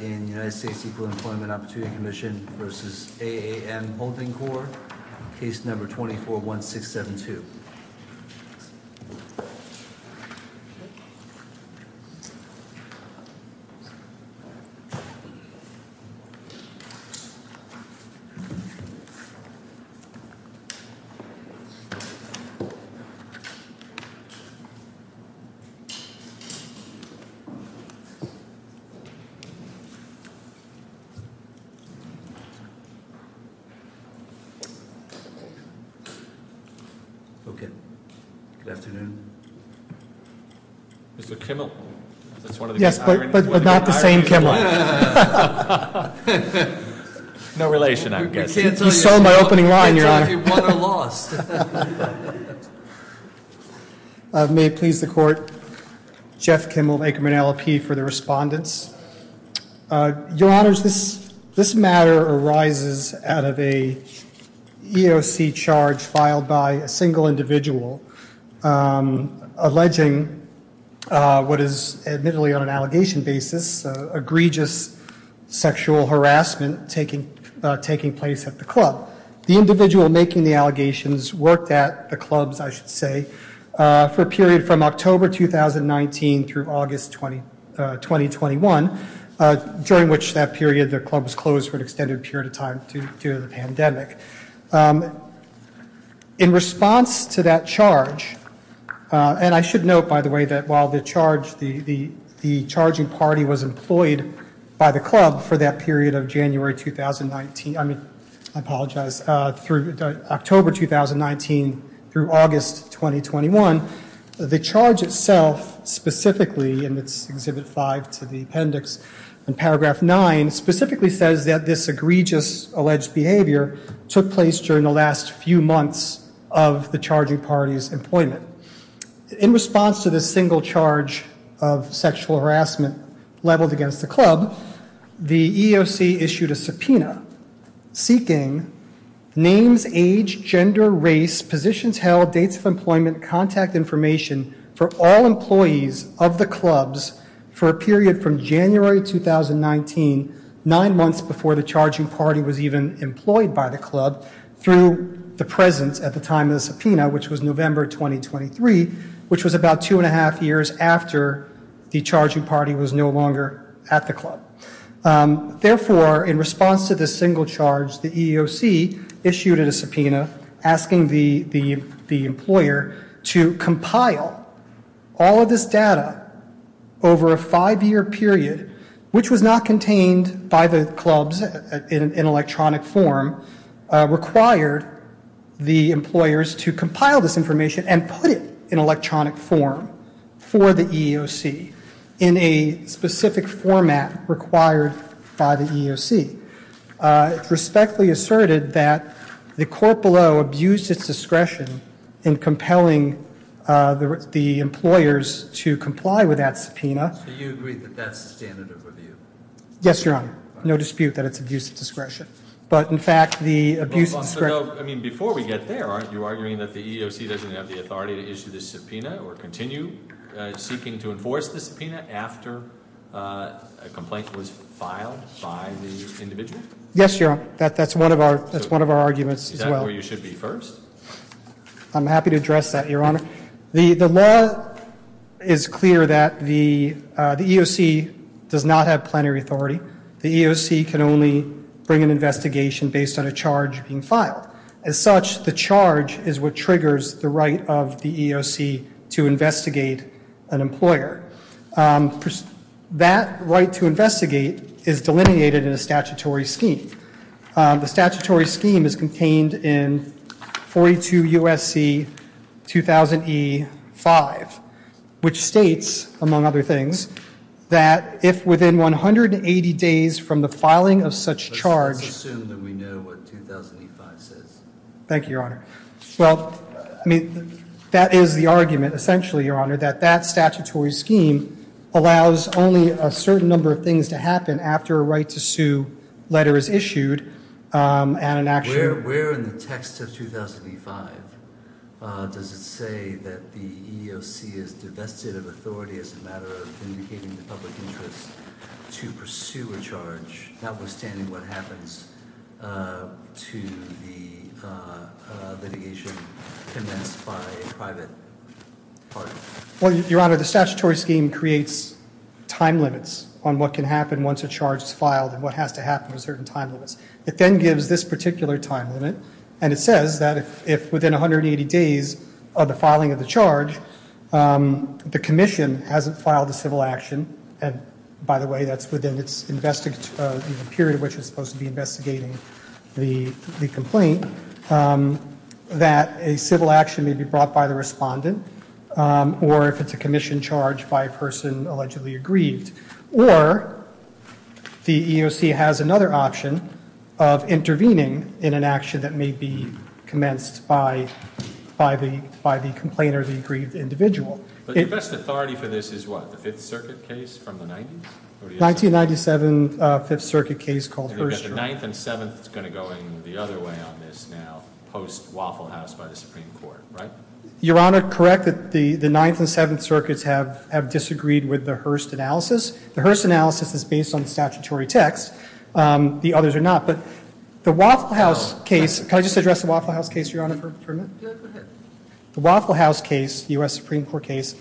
in United States Equal Employment Opportunity Commission versus AAM Holding Corp. Case number 241672. Okay. Good afternoon. Mr. Kimmel, that's one of the great irons. Yes, but not the same Kimmel. No relation, I'm guessing. You saw my opening line, your honor. You can't tell me what I lost. May it please the court. Jeff Kimmel, Aikman LLP for the respondents. Your honors, this matter arises out of a EOC charge filed by a single individual alleging what is admittedly on an allegation basis, egregious sexual harassment taking place at the club. The individual making the allegations worked at the clubs, I should say, for a period from October 2019 through August 2021, during which that period the club was closed for an extended period of time due to the pandemic. In response to that charge, and I should note, by the way, that while the charge, the charging party was employed by the club for that period of January 2019. I mean, I apologize, through October 2019 through August 2021. The charge itself specifically in its exhibit five to the appendix and paragraph nine specifically says that this egregious alleged behavior took place during the last few months of the charging party's employment. In response to this single charge of sexual harassment leveled against the club, the EOC issued a subpoena seeking names, age, gender, race, positions, held dates of employment, contact information for all employees of the clubs for a period from January 2019. Nine months before the charging party was even employed by the club through the presence at the time of the subpoena, which was November 2023, which was about two and a half years after the charging party was no longer at the club. Therefore, in response to this single charge, the EOC issued a subpoena asking the the the employer to compile all of this data over a five year period, which was not contained by the clubs in electronic form required the employers to compile this information and put it in electronic form for the EOC in a specific format required by the EOC. It respectfully asserted that the court below abused its discretion in compelling the employers to comply with that subpoena. So you agree that that's the standard of review? Yes, Your Honor. No dispute that it's abuse of discretion. But in fact, the abuse of discretion... I mean, before we get there, aren't you arguing that the EOC doesn't have the authority to issue this subpoena or continue seeking to enforce this subpoena after a complaint was filed by the individual? Yes, Your Honor. That's one of our arguments as well. Is that where you should be first? I'm happy to address that, Your Honor. The law is clear that the EOC does not have plenary authority. The EOC can only bring an investigation based on a charge being filed. As such, the charge is what triggers the right of the EOC to investigate an employer. That right to investigate is delineated in a statutory scheme. The statutory scheme is contained in 42 U.S.C. 2000E5, which states, among other things, that if within 180 days from the filing of such charge... Let's assume that we know what 2000E5 says. Thank you, Your Honor. Well, I mean, that is the argument, essentially, Your Honor, that that statutory scheme allows only a certain number of things to happen after a right to sue letter is issued and an action... Where in the text of 2000E5 does it say that the EOC is divested of authority as a matter of vindicating the public interest to pursue a charge, notwithstanding what happens to the litigation commenced by a private party? Well, Your Honor, the statutory scheme creates time limits on what can happen once a charge is filed and what has to happen to certain time limits. It then gives this particular time limit, and it says that if within 180 days of the filing of the charge, the commission hasn't filed a civil action, and by the way, that's within the period in which it's supposed to be investigating the complaint, that a civil action may be brought by the respondent or if it's a commission charge by a person allegedly aggrieved. Or the EOC has another option of intervening in an action that may be commenced by the complaint or the aggrieved individual. But the best authority for this is what, the Fifth Circuit case from the 90s? 1997 Fifth Circuit case called Hearst. And you've got the Ninth and Seventh that's going to go in the other way on this now, post-Waffle House by the Supreme Court, right? Your Honor, correct that the Ninth and Seventh Circuits have disagreed with the Hearst analysis. The Hearst analysis is based on statutory text. The others are not. But the Waffle House case, can I just address the Waffle House case, Your Honor, for a moment? Go ahead. The Waffle House case, U.S. Supreme Court case,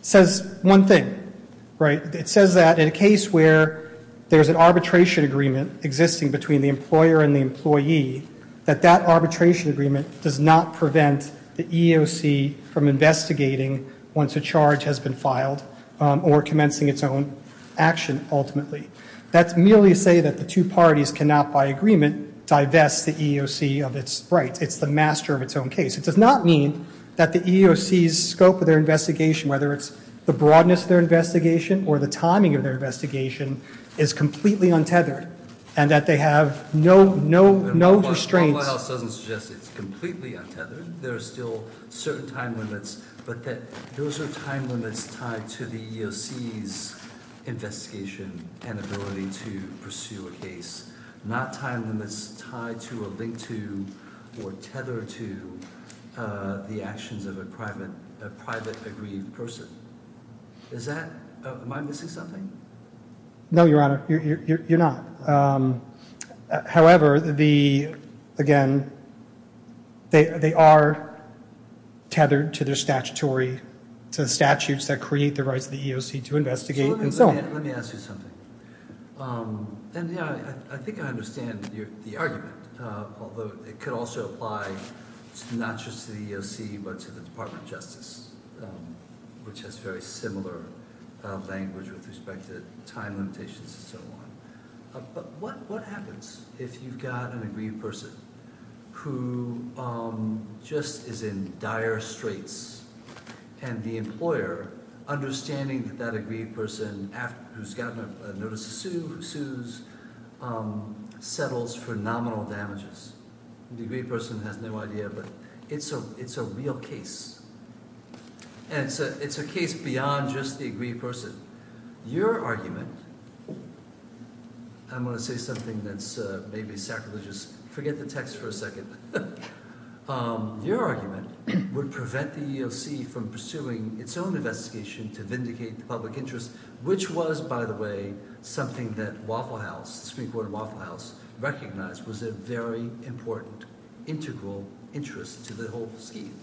says one thing, right? It says that in a case where there's an arbitration agreement existing between the employer and the employee, that that arbitration agreement does not prevent the EOC from investigating once a charge has been filed or commencing its own action ultimately. That's merely to say that the two parties cannot, by agreement, divest the EOC of its rights. It's the master of its own case. It does not mean that the EOC's scope of their investigation, whether it's the broadness of their investigation or the timing of their investigation, is completely untethered and that they have no restraints. Waffle House doesn't suggest it's completely untethered. There are still certain time limits, but that those are time limits tied to the EOC's investigation and ability to pursue a case. Not time limits tied to or linked to or tethered to the actions of a private agreed person. Is that, am I missing something? No, Your Honor, you're not. However, the, again, they are tethered to their statutory, to the statutes that create the rights of the EOC to investigate and so on. Let me ask you something. I think I understand the argument, although it could also apply not just to the EOC but to the Department of Justice, which has very similar language with respect to time limitations and so on. But what happens if you've got an agreed person who just is in dire straits and the employer, understanding that that agreed person who's gotten a notice to sue, who sues, settles for nominal damages? The agreed person has no idea, but it's a real case. And it's a case beyond just the agreed person. Your argument, I'm going to say something that's maybe sacrilegious. Forget the text for a second. Your argument would prevent the EOC from pursuing its own investigation to vindicate the public interest, which was, by the way, something that Waffle House, the Supreme Court of Waffle House, recognized was a very important integral interest to the whole scheme.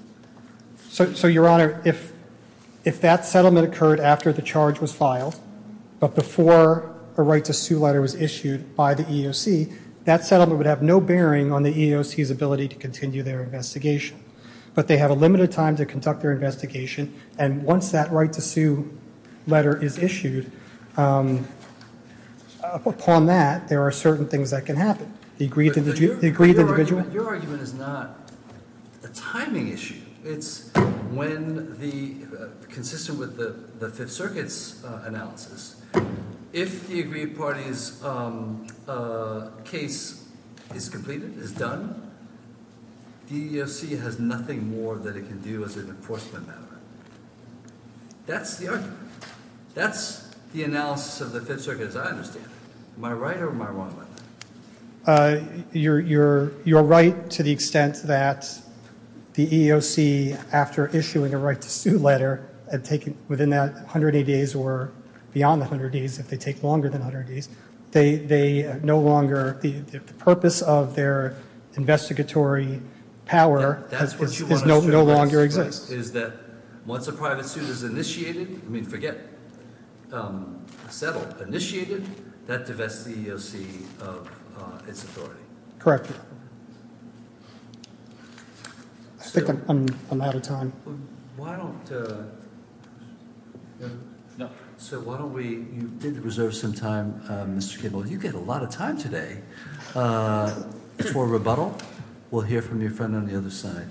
So, Your Honor, if that settlement occurred after the charge was filed, but before a right to sue letter was issued by the EOC, that settlement would have no bearing on the EOC's ability to continue their investigation. But they have a limited time to conduct their investigation. And once that right to sue letter is issued, upon that, there are certain things that can happen. The agreed individual. Your argument is not a timing issue. It's consistent with the Fifth Circuit's analysis. If the agreed party's case is completed, is done, the EOC has nothing more that it can do as an enforcement matter. That's the argument. That's the analysis of the Fifth Circuit as I understand it. Am I right or am I wrong on that? You're right to the extent that the EOC, after issuing a right to sue letter, within that 180 days or beyond the 180 days, if they take longer than 180 days, they no longer, the purpose of their investigatory power no longer exists. Once a private suit is initiated, I mean forget settled, initiated, that divests the EOC of its authority. Correct. I think I'm out of time. So why don't we, you did reserve some time, Mr. Cable. You get a lot of time today for rebuttal. We'll hear from your friend on the other side.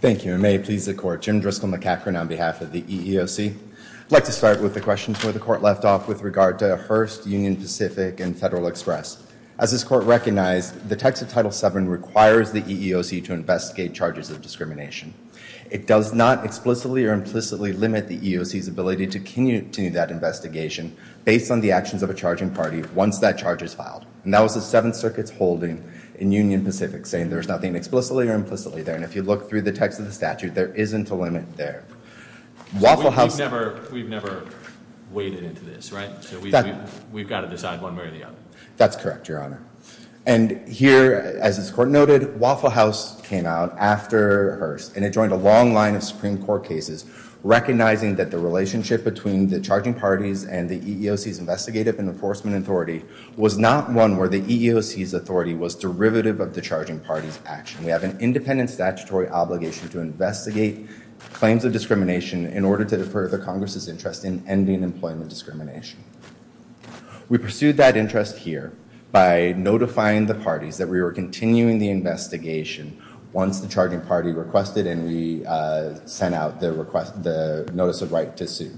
Thank you and may it please the court. Jim Driscoll McCaffrey on behalf of the EEOC. I'd like to start with the questions where the court left off with regard to Hearst, Union Pacific, and Federal Express. As this court recognized, the text of Title VII requires the EEOC to investigate charges of discrimination. It does not explicitly or implicitly limit the EEOC's ability to continue that investigation based on the actions of a charging party once that charge is filed. And that was the Seventh Circuit's holding in Union Pacific saying there's nothing explicitly or implicitly there. And if you look through the text of the statute, there isn't a limit there. We've never waded into this, right? We've got to decide one way or the other. That's correct, Your Honor. And here, as this court noted, Waffle House came out after Hearst and it joined a long line of Supreme Court cases recognizing that the relationship between the charging parties and the EEOC's investigative enforcement authority was not one where the EEOC's authority was derivative of the charging party's action. We have an independent statutory obligation to investigate claims of discrimination in order to defer the Congress's interest in ending employment discrimination. We pursued that interest here by notifying the parties that we were continuing the investigation once the charging party requested and we sent out the notice of right to sue.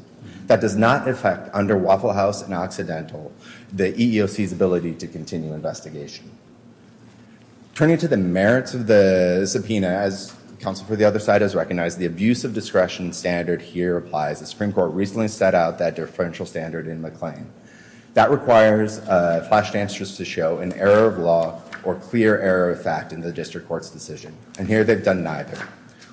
That does not affect, under Waffle House and Occidental, the EEOC's ability to continue investigation. Turning to the merits of the subpoena, as counsel for the other side has recognized, the abuse of discretion standard here applies. The Supreme Court recently set out that differential standard in the claim. That requires flashed answers to show an error of law or clear error of fact in the district court's decision. And here they've done neither.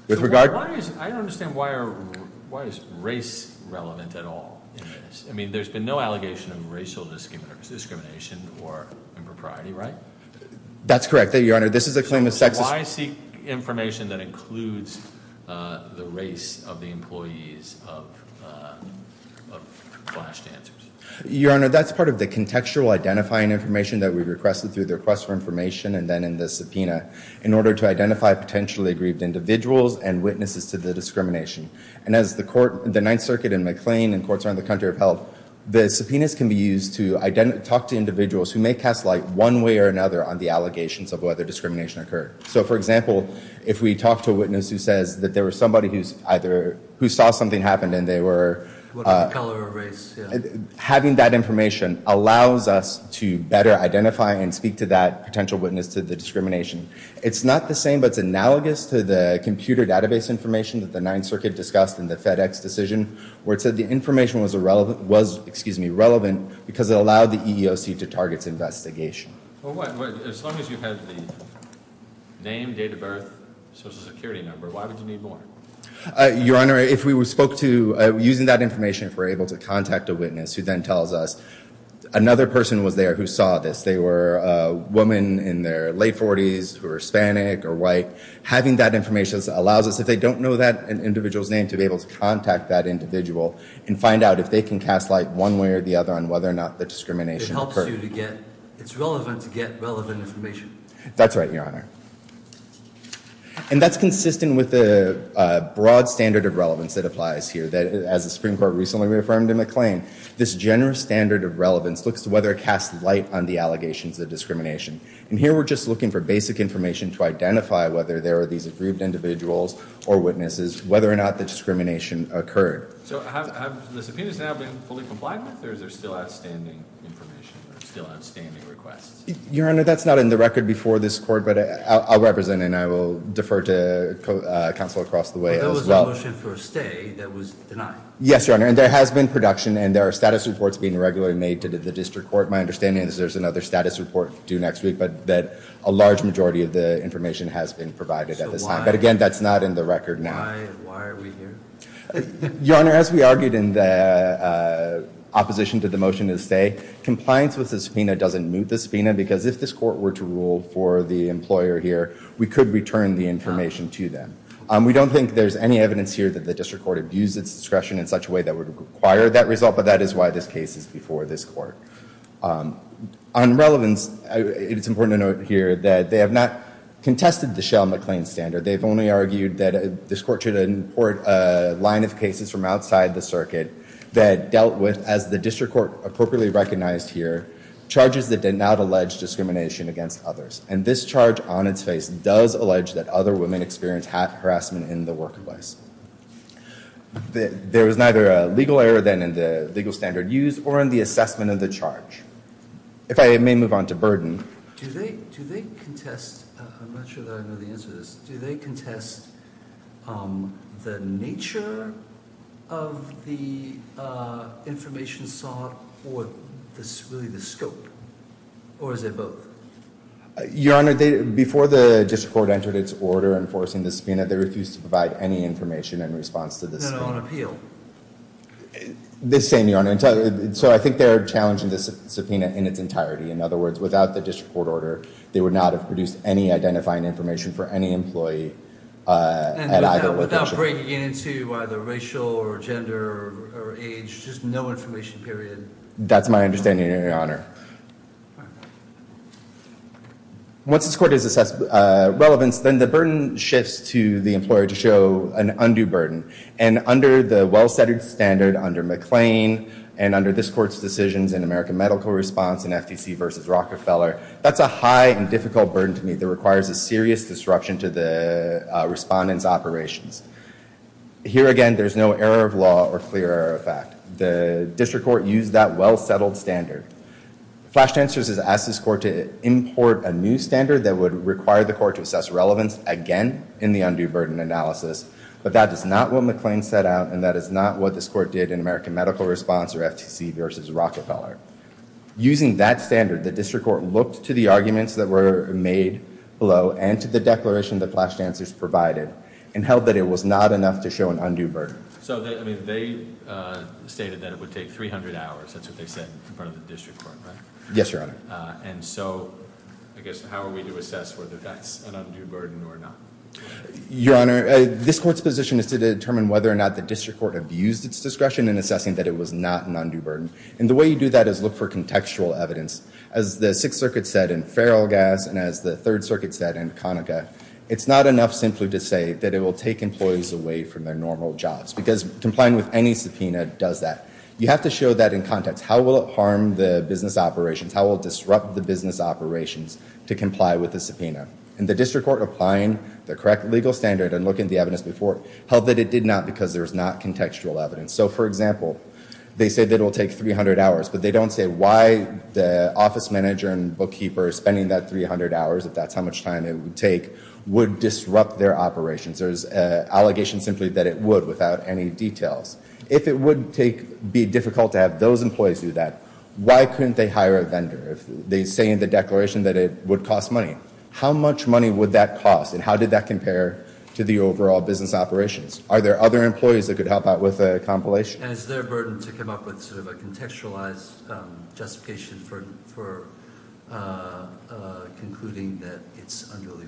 I don't understand why is race relevant at all in this? I mean, there's been no allegation of racial discrimination or impropriety, right? That's correct, Your Honor. This is a claim of sexist... Why seek information that includes the race of the employees of flashed answers? Your Honor, that's part of the contextual identifying information that we requested through the request for information and then in the subpoena in order to identify potentially aggrieved individuals and witnesses to the discrimination. And as the Ninth Circuit and McLean and courts around the country have held, the subpoenas can be used to talk to individuals who may cast light one way or another on the allegations of whether discrimination occurred. So, for example, if we talk to a witness who says that there was somebody who saw something happen and they were... What color of race? Having that information allows us to better identify and speak to that potential witness to the discrimination. It's not the same, but it's analogous to the computer database information that the Ninth Circuit discussed in the FedEx decision where it said the information was relevant because it allowed the EEOC to target its investigation. As long as you have the name, date of birth, Social Security number, why would you need more? Your Honor, if we spoke to... Using that information, if we're able to contact a witness who then tells us another person was there who saw this. They were a woman in their late 40s who were Hispanic or white. Having that information allows us, if they don't know that individual's name, to be able to contact that individual and find out if they can cast light one way or the other on whether or not the discrimination occurred. Which helps you to get... It's relevant to get relevant information. That's right, Your Honor. And that's consistent with the broad standard of relevance that applies here. As the Supreme Court recently reaffirmed in McLean, this generous standard of relevance looks to whether it casts light on the allegations of discrimination. And here we're just looking for basic information to identify whether there are these aggrieved individuals or witnesses, whether or not the discrimination occurred. So have the subpoenas now been fully complied with or is there still outstanding information, still outstanding requests? Your Honor, that's not in the record before this court, but I'll represent it and I will defer to counsel across the way as well. But there was a motion for a stay that was denied. Yes, Your Honor, and there has been production and there are status reports being regularly made to the district court. My understanding is there's another status report due next week, but that a large majority of the information has been provided at this time. But again, that's not in the record now. Why are we here? Your Honor, as we argued in the opposition to the motion to stay, compliance with the subpoena doesn't move the subpoena because if this court were to rule for the employer here, we could return the information to them. We don't think there's any evidence here that the district court abused its discretion in such a way that would require that result, but that is why this case is before this court. On relevance, it's important to note here that they have not contested the Shell-McLean standard. They've only argued that this court should import a line of cases from outside the circuit that dealt with, as the district court appropriately recognized here, charges that did not allege discrimination against others. And this charge on its face does allege that other women experienced hat harassment in the workplace. There was neither a legal error then in the legal standard used or in the assessment of the charge. If I may move on to burden. Do they contest, I'm not sure that I know the answer to this, do they contest the nature of the information sought or really the scope? Or is it both? Your Honor, before the district court entered its order enforcing the subpoena, they refused to provide any information in response to the subpoena. No, no, on appeal. The same, Your Honor. So I think they're challenging the subpoena in its entirety. In other words, without the district court order, they would not have produced any identifying information for any employee at either location. And without breaking into either racial or gender or age, just no information, period. That's my understanding, Your Honor. Once this court has assessed relevance, then the burden shifts to the employer to show an undue burden. And under the well-setted standard under McLean and under this court's decisions in American Medical Response and FTC versus Rockefeller, that's a high and difficult burden to meet that requires a serious disruption to the respondents' operations. Here again, there's no error of law or clear error of fact. The district court used that well-settled standard. Flash answers has asked this court to import a new standard that would require the court to assess relevance again in the undue burden analysis. But that is not what McLean set out, and that is not what this court did in American Medical Response or FTC versus Rockefeller. Using that standard, the district court looked to the arguments that were made below and to the declaration that Flash Answers provided and held that it was not enough to show an undue burden. So they stated that it would take 300 hours. That's what they said in front of the district court, right? Yes, Your Honor. And so I guess how are we to assess whether that's an undue burden or not? Your Honor, this court's position is to determine whether or not the district court abused its discretion in assessing that it was not an undue burden. And the way you do that is look for contextual evidence. As the Sixth Circuit said in Ferrel Gas and as the Third Circuit said in Conaca, it's not enough simply to say that it will take employees away from their normal jobs because complying with any subpoena does that. You have to show that in context. How will it harm the business operations? How will it disrupt the business operations to comply with the subpoena? And the district court applying the correct legal standard and looking at the evidence before held that it did not because there's not contextual evidence. So, for example, they say that it will take 300 hours, but they don't say why the office manager and bookkeeper spending that 300 hours, if that's how much time it would take, would disrupt their operations. There's an allegation simply that it would without any details. If it would be difficult to have those employees do that, why couldn't they hire a vendor? They say in the declaration that it would cost money. How much money would that cost and how did that compare to the overall business operations? Are there other employees that could help out with a compilation? And is there a burden to come up with sort of a contextualized justification for concluding that it's underly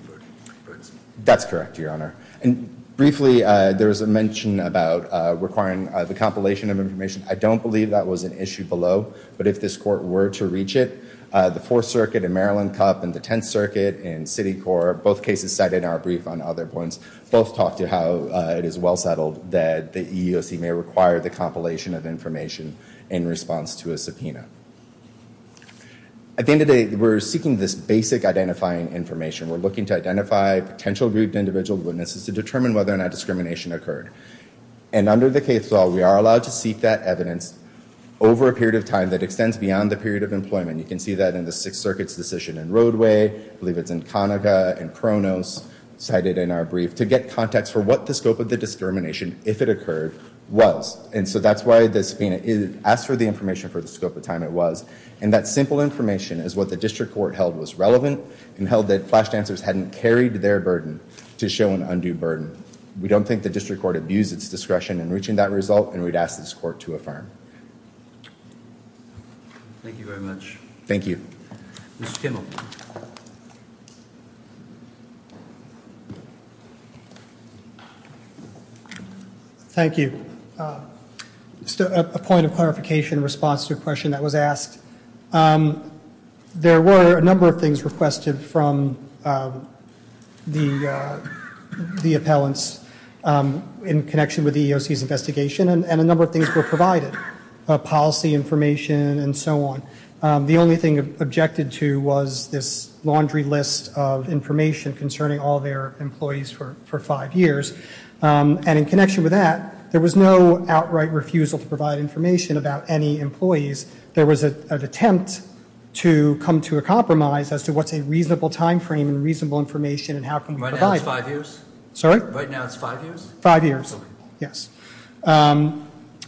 burdensome? That's correct, Your Honor. And briefly, there was a mention about requiring the compilation of information. I don't believe that was an issue below, but if this court were to reach it, the Fourth Circuit and Maryland Cup and the Tenth Circuit and City Court, both cases cited in our brief on other points, both talk to how it is well settled that the EEOC may require the compilation of information in response to a subpoena. At the end of the day, we're seeking this basic identifying information. We're looking to identify potential grouped individual witnesses to determine whether or not discrimination occurred. And under the case law, we are allowed to seek that evidence over a period of time that extends beyond the period of employment. You can see that in the Sixth Circuit's decision in Roadway. I believe it's in Conaga and Kronos cited in our brief to get context for what the scope of the discrimination, if it occurred, was. And so that's why the subpoena asks for the information for the scope of time it was. And that simple information is what the district court held was relevant and held that flashed answers hadn't carried their burden to show an undue burden. We don't think the district court abused its discretion in reaching that result, and we'd ask this court to affirm. Thank you very much. Thank you. Mr. Kimmel. Thank you. Just a point of clarification in response to a question that was asked. There were a number of things requested from the appellants in connection with the EEOC's investigation, and a number of things were provided, policy information and so on. The only thing objected to was this laundry list of information concerning all their employees for five years. And in connection with that, there was no outright refusal to provide information about any employees. There was an attempt to come to a compromise as to what's a reasonable time frame and reasonable information and how can we provide it. Sorry? Right now it's five years? Five years, yes.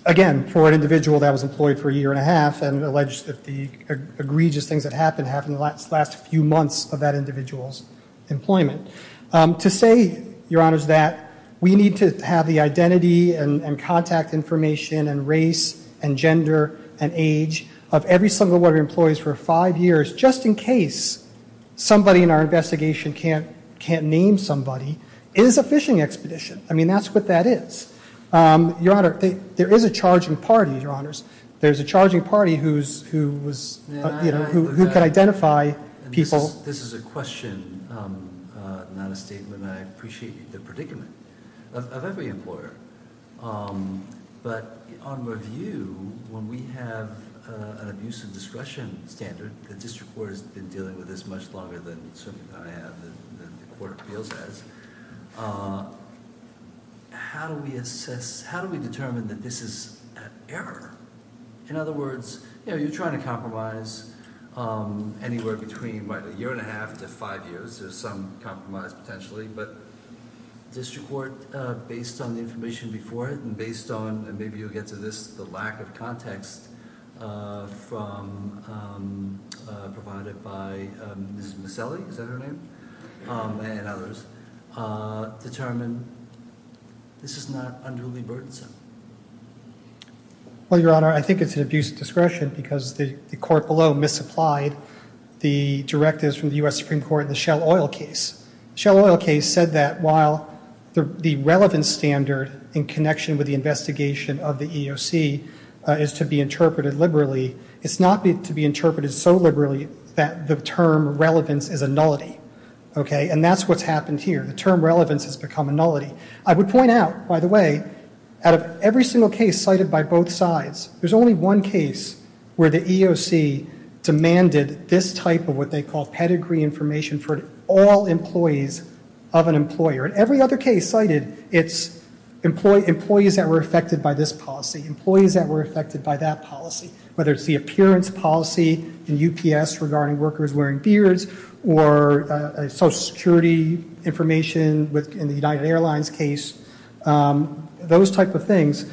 Again, for an individual that was employed for a year and a half and alleged that the egregious things that happened happened in the last few months of that individual's employment. To say, Your Honors, that we need to have the identity and contact information and race and gender and age of every single one of your employees for five years, just in case somebody in our investigation can't name somebody, is a phishing expedition. I mean, that's what that is. Your Honor, there is a charging party, Your Honors. There's a charging party who can identify people. This is a question, not a statement. I appreciate the predicament of every employer. But on review, when we have an abuse of discretion standard, the district court has been dealing with this much longer than certainly I have and the court feels as, how do we assess, how do we determine that this is an error? In other words, you're trying to compromise anywhere between a year and a half to five years. There's some compromise potentially. But district court, based on the information before it and based on, and maybe you'll get to this, the lack of context provided by Ms. Maselli, is that her name, and others, determine this is not underly burdensome. Well, Your Honor, I think it's an abuse of discretion because the court below misapplied the directives from the U.S. Supreme Court in the Shell Oil case. The Shell Oil case said that while the relevance standard in connection with the investigation of the EEOC is to be interpreted liberally, it's not to be interpreted so liberally that the term relevance is a nullity. Okay? And that's what's happened here. The term relevance has become a nullity. I would point out, by the way, out of every single case cited by both sides, there's only one case where the EEOC demanded this type of what they call pedigree information for all employees of an employer. In every other case cited, it's employees that were affected by this policy, employees that were affected by that policy, whether it's the appearance policy in UPS regarding workers wearing beards or Social Security information in the United Airlines case, those type of things.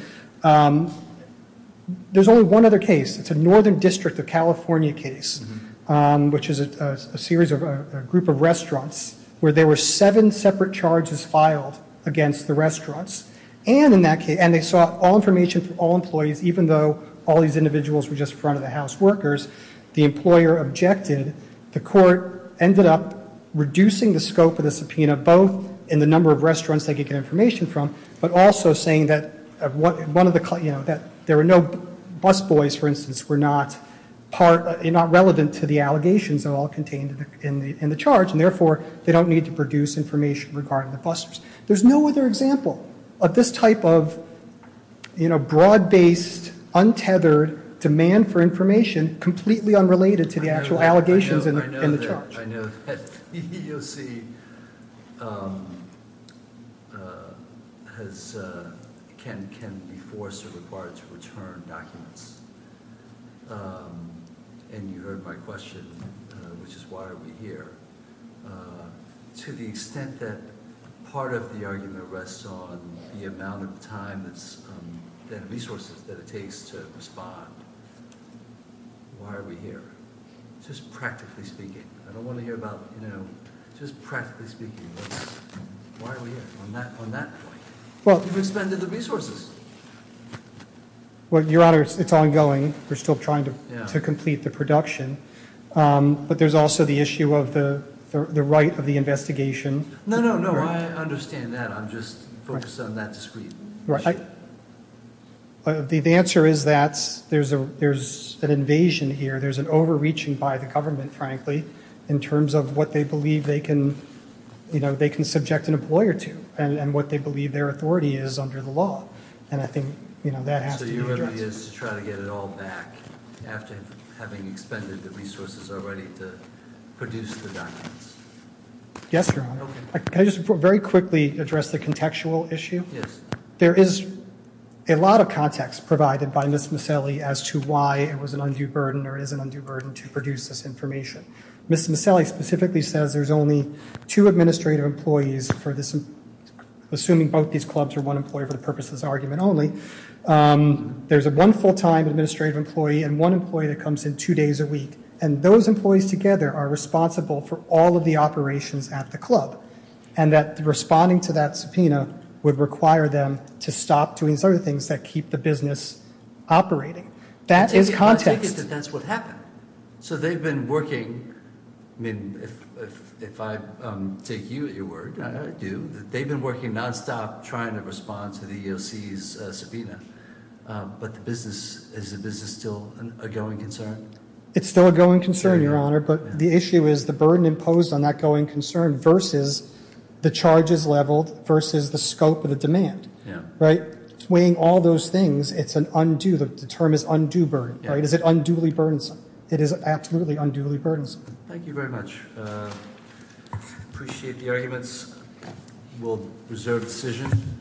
There's only one other case. It's a Northern District of California case, which is a group of restaurants where there were seven separate charges filed against the restaurants, and they sought all information for all employees, even though all these individuals were just front-of-the-house workers. The employer objected. The court ended up reducing the scope of the subpoena, both in the number of restaurants they could get information from, but also saying that there were no busboys, for instance, were not relevant to the allegations that are all contained in the charge, and therefore they don't need to produce information regarding the busters. There's no other example of this type of broad-based, untethered demand for information completely unrelated to the actual allegations in the charge. I know that the EEOC can be forced or required to return documents, and you heard my question, which is why are we here, to the extent that part of the argument rests on the amount of time and resources that it takes to respond, why are we here? Just practically speaking. I don't want to hear about, you know, just practically speaking. Why are we here on that point? You've expended the resources. Well, Your Honor, it's ongoing. We're still trying to complete the production, but there's also the issue of the right of the investigation. No, no, no, I understand that. I'm just focused on that discrete issue. The answer is that there's an invasion here, there's an overreaching by the government, frankly, in terms of what they believe they can subject an employer to and what they believe their authority is under the law, and I think that has to be addressed. So your remedy is to try to get it all back after having expended the resources already to produce the documents? Yes, Your Honor. Okay. Can I just very quickly address the contextual issue? Yes. There is a lot of context provided by Ms. Maselli as to why it was an undue burden or is an undue burden to produce this information. Ms. Maselli specifically says there's only two administrative employees for this, assuming both these clubs are one employee for the purposes of this argument only, there's one full-time administrative employee and one employee that comes in two days a week, and those employees together are responsible for all of the operations at the club and that responding to that subpoena would require them to stop doing certain things that keep the business operating. That is context. I take it that that's what happened. So they've been working, I mean, if I take you at your word, I do, they've been working nonstop trying to respond to the EEOC's subpoena, but is the business still a going concern? It's still a going concern, Your Honor, but the issue is the burden imposed on that going concern versus the charges leveled versus the scope of the demand, right? Weighing all those things, it's an undue, the term is undue burden, right? Is it unduly burdensome? It is absolutely unduly burdensome. Thank you very much. I appreciate the arguments. We'll reserve decision.